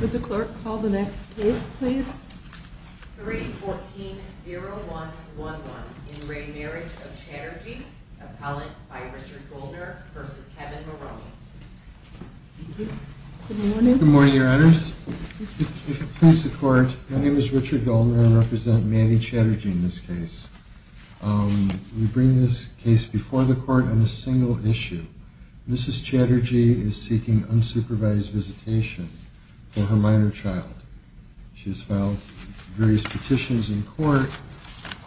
Would the clerk call the next case please? 3-14-01-11. In re Marriage of Chatterjee, appellate by Richard Goldner v. Kevin Maroney. Good morning. Good morning, your honors. If it please the court, my name is Richard Goldner and I represent Manny Chatterjee in this case. We bring this case before the court on a single issue. Mrs. Chatterjee is seeking unsupervised visitation for her minor child. She has filed various petitions in court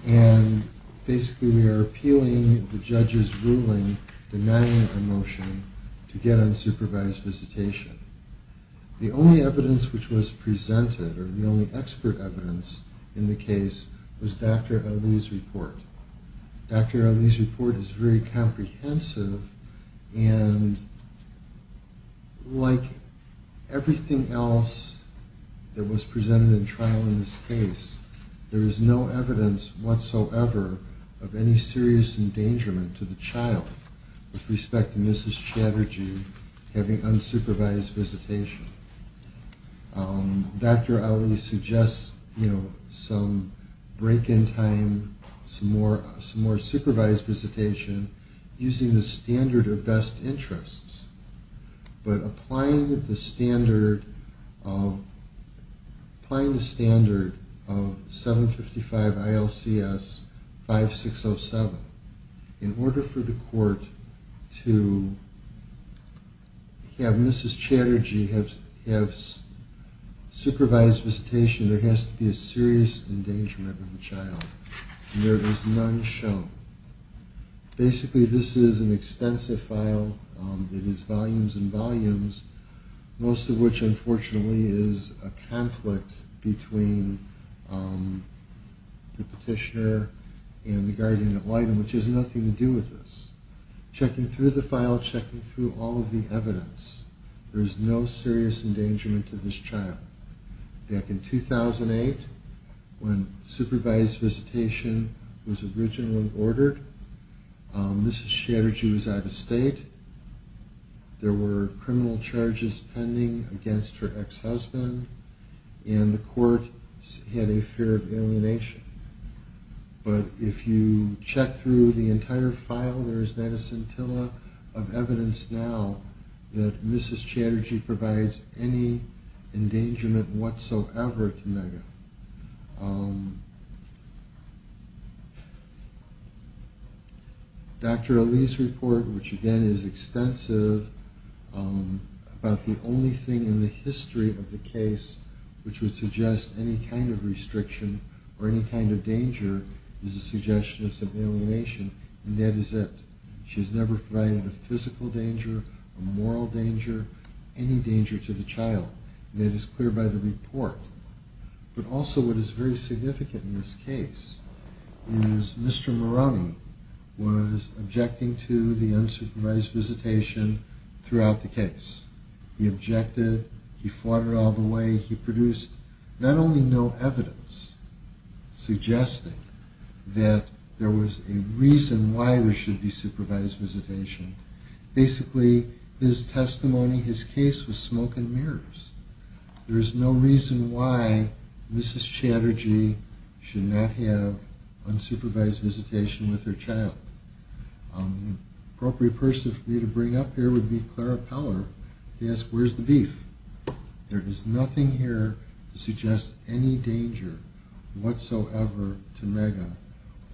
and basically we are appealing the judge's ruling denying a motion to get unsupervised visitation. The only evidence which was presented or the only expert evidence in the case was Dr. Ali's report. Dr. Ali's report is very comprehensive and like everything else that was presented in trial in this case, there is no evidence whatsoever of any serious endangerment to the child with respect to Mrs. Chatterjee having unsupervised visitation. Dr. Ali suggests some break in time, some more supervised visitation using the standard of best interests, but applying the standard of 755 ILCS 5607 in order for the court to have Mrs. Chatterjee have supervised visitation, there has to be a serious endangerment to the child and there is none shown. Basically this is an extensive file, it is volumes and volumes, most of which unfortunately is a conflict between the petitioner and the guardian at light, which has nothing to do with this. Checking through the file, checking through all of the evidence, there is no serious endangerment to this child. Back in 2008, when supervised visitation was originally ordered, Mrs. Chatterjee was out of state, there were criminal charges pending against her ex-husband, and the court had a fear of alienation. But if you check through the entire file, there is not a scintilla of evidence now that Mrs. Chatterjee provides any endangerment whatsoever to Megha. Dr. Ali's report, which again is extensive, about the only thing in the history of the case which would suggest any kind of restriction or any kind of danger is a suggestion of some alienation, and that is that she has never provided a physical danger, a moral danger, any danger to the child, and that is clear by the report. But also what is very significant in this case is Mr. Murani was objecting to the unsupervised visitation throughout the case. He objected, he fought it all the way, he produced not only no evidence suggesting that there was a reason why there should be supervised visitation, basically his testimony, his case was smoke and mirrors. There is no reason why Mrs. Chatterjee should not have unsupervised visitation with her child. The appropriate person for me to bring up here would be Clara Peller, to ask where is the beef? There is nothing here to suggest any danger whatsoever to Megha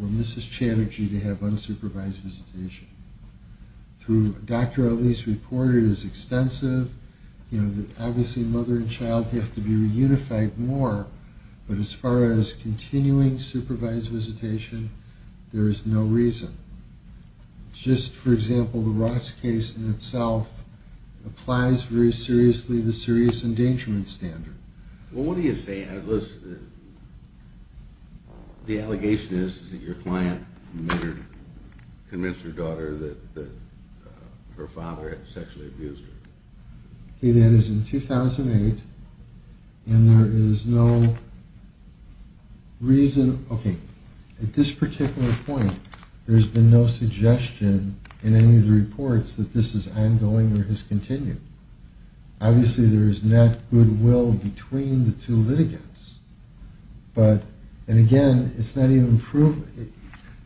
or Mrs. Chatterjee to have unsupervised visitation. Dr. Ali's report is extensive, obviously mother and child have to be reunified more, but as far as continuing supervised visitation, there is no reason. Just for example, the Ross case in itself applies very seriously the serious endangerment standard. Well what do you say, the allegation is that your client convinced her daughter that her father had sexually abused her? Okay, that is in 2008, and there is no reason, okay, at this particular point, there has been no suggestion in any of the reports that this is ongoing or has continued. Obviously there is not goodwill between the two litigants, and again,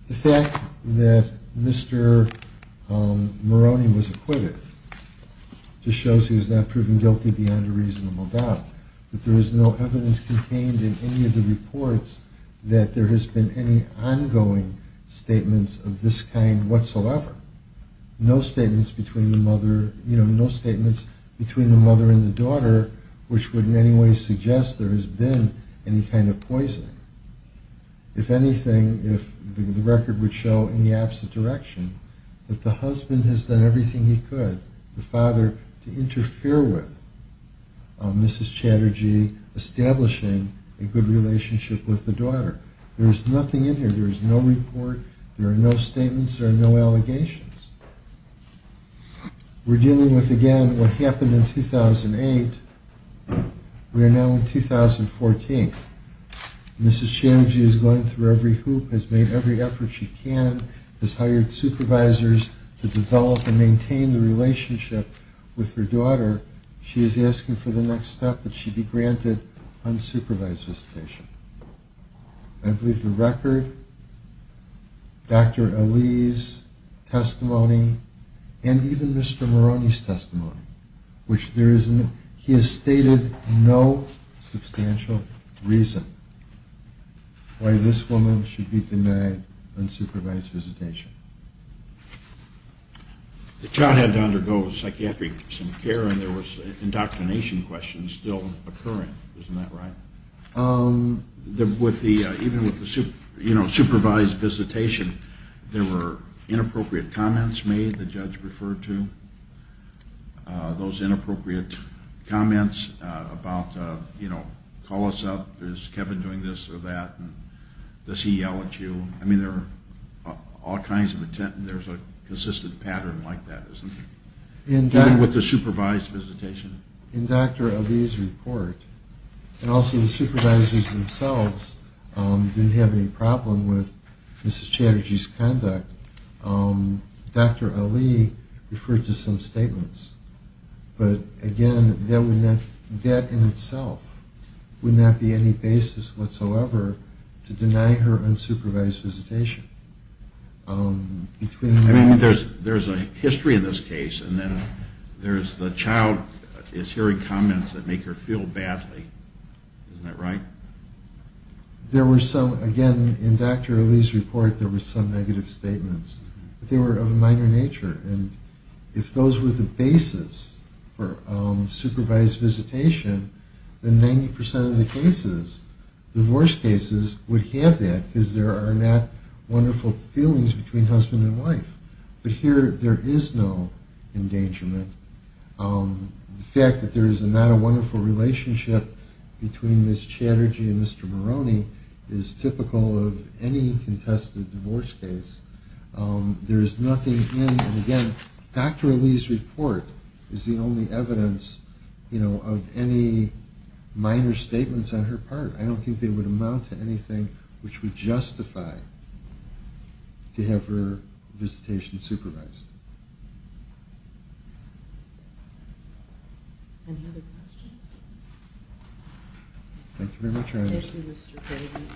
the fact that Mr. Maroney was acquitted just shows he was not proven guilty beyond a reasonable doubt. There is no evidence contained in any of the reports that there has been any ongoing statements of this kind whatsoever. No statements between the mother and the daughter, which would in any way suggest there has been any kind of poisoning. If anything, the record would show in the opposite direction, that the husband has done everything he could, the father, to interfere with Mrs. Chatterjee establishing a good relationship with the daughter. There is nothing in here, there is no report, there are no statements, there are no allegations. We are dealing with again what happened in 2008, we are now in 2014. Mrs. Chatterjee is going through every hoop, has made every effort she can, has hired supervisors to develop and maintain the relationship with her daughter. She is asking for the next step, that she be granted unsupervised visitation. I believe the record, Dr. Ali's testimony, and even Mr. Maroney's testimony, which he has stated no substantial reason why this woman should be denied unsupervised visitation. The child had to undergo psychiatric care and there was indoctrination questions still occurring, isn't that right? Even with the supervised visitation, there were inappropriate comments made, the judge referred to. Those inappropriate comments about, you know, call us up, is Kevin doing this or that, does he yell at you? I mean there are all kinds of attempts, there is a consistent pattern like that, isn't there? Even with the supervised visitation. In Dr. Ali's report, and also the supervisors themselves didn't have any problem with Mrs. Chatterjee's conduct, Dr. Ali referred to some statements. But again, that in itself would not be any basis whatsoever to deny her unsupervised visitation. I mean there's a history in this case, and then there's the child is hearing comments that make her feel badly, isn't that right? There were some, again, in Dr. Ali's report there were some negative statements, but they were of a minor nature. And if those were the basis for supervised visitation, then 90% of the cases, divorce cases, would have that because there are not wonderful feelings between husband and wife. But here there is no endangerment. The fact that there is not a wonderful relationship between Mrs. Chatterjee and Mr. Maroney is typical of any contested divorce case. There is nothing in, and again, Dr. Ali's report is the only evidence of any minor statements on her part. I don't think they would amount to anything which would justify to have her visitation supervised. Any other questions? Thank you very much, Iris. Thank you, Mr. Craven.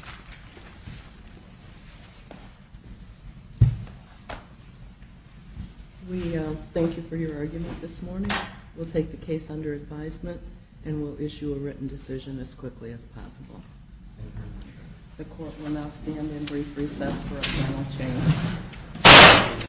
We thank you for your argument this morning. We'll take the case under advisement, and we'll issue a written decision as quickly as possible. The court will now stand in brief recess for a final change.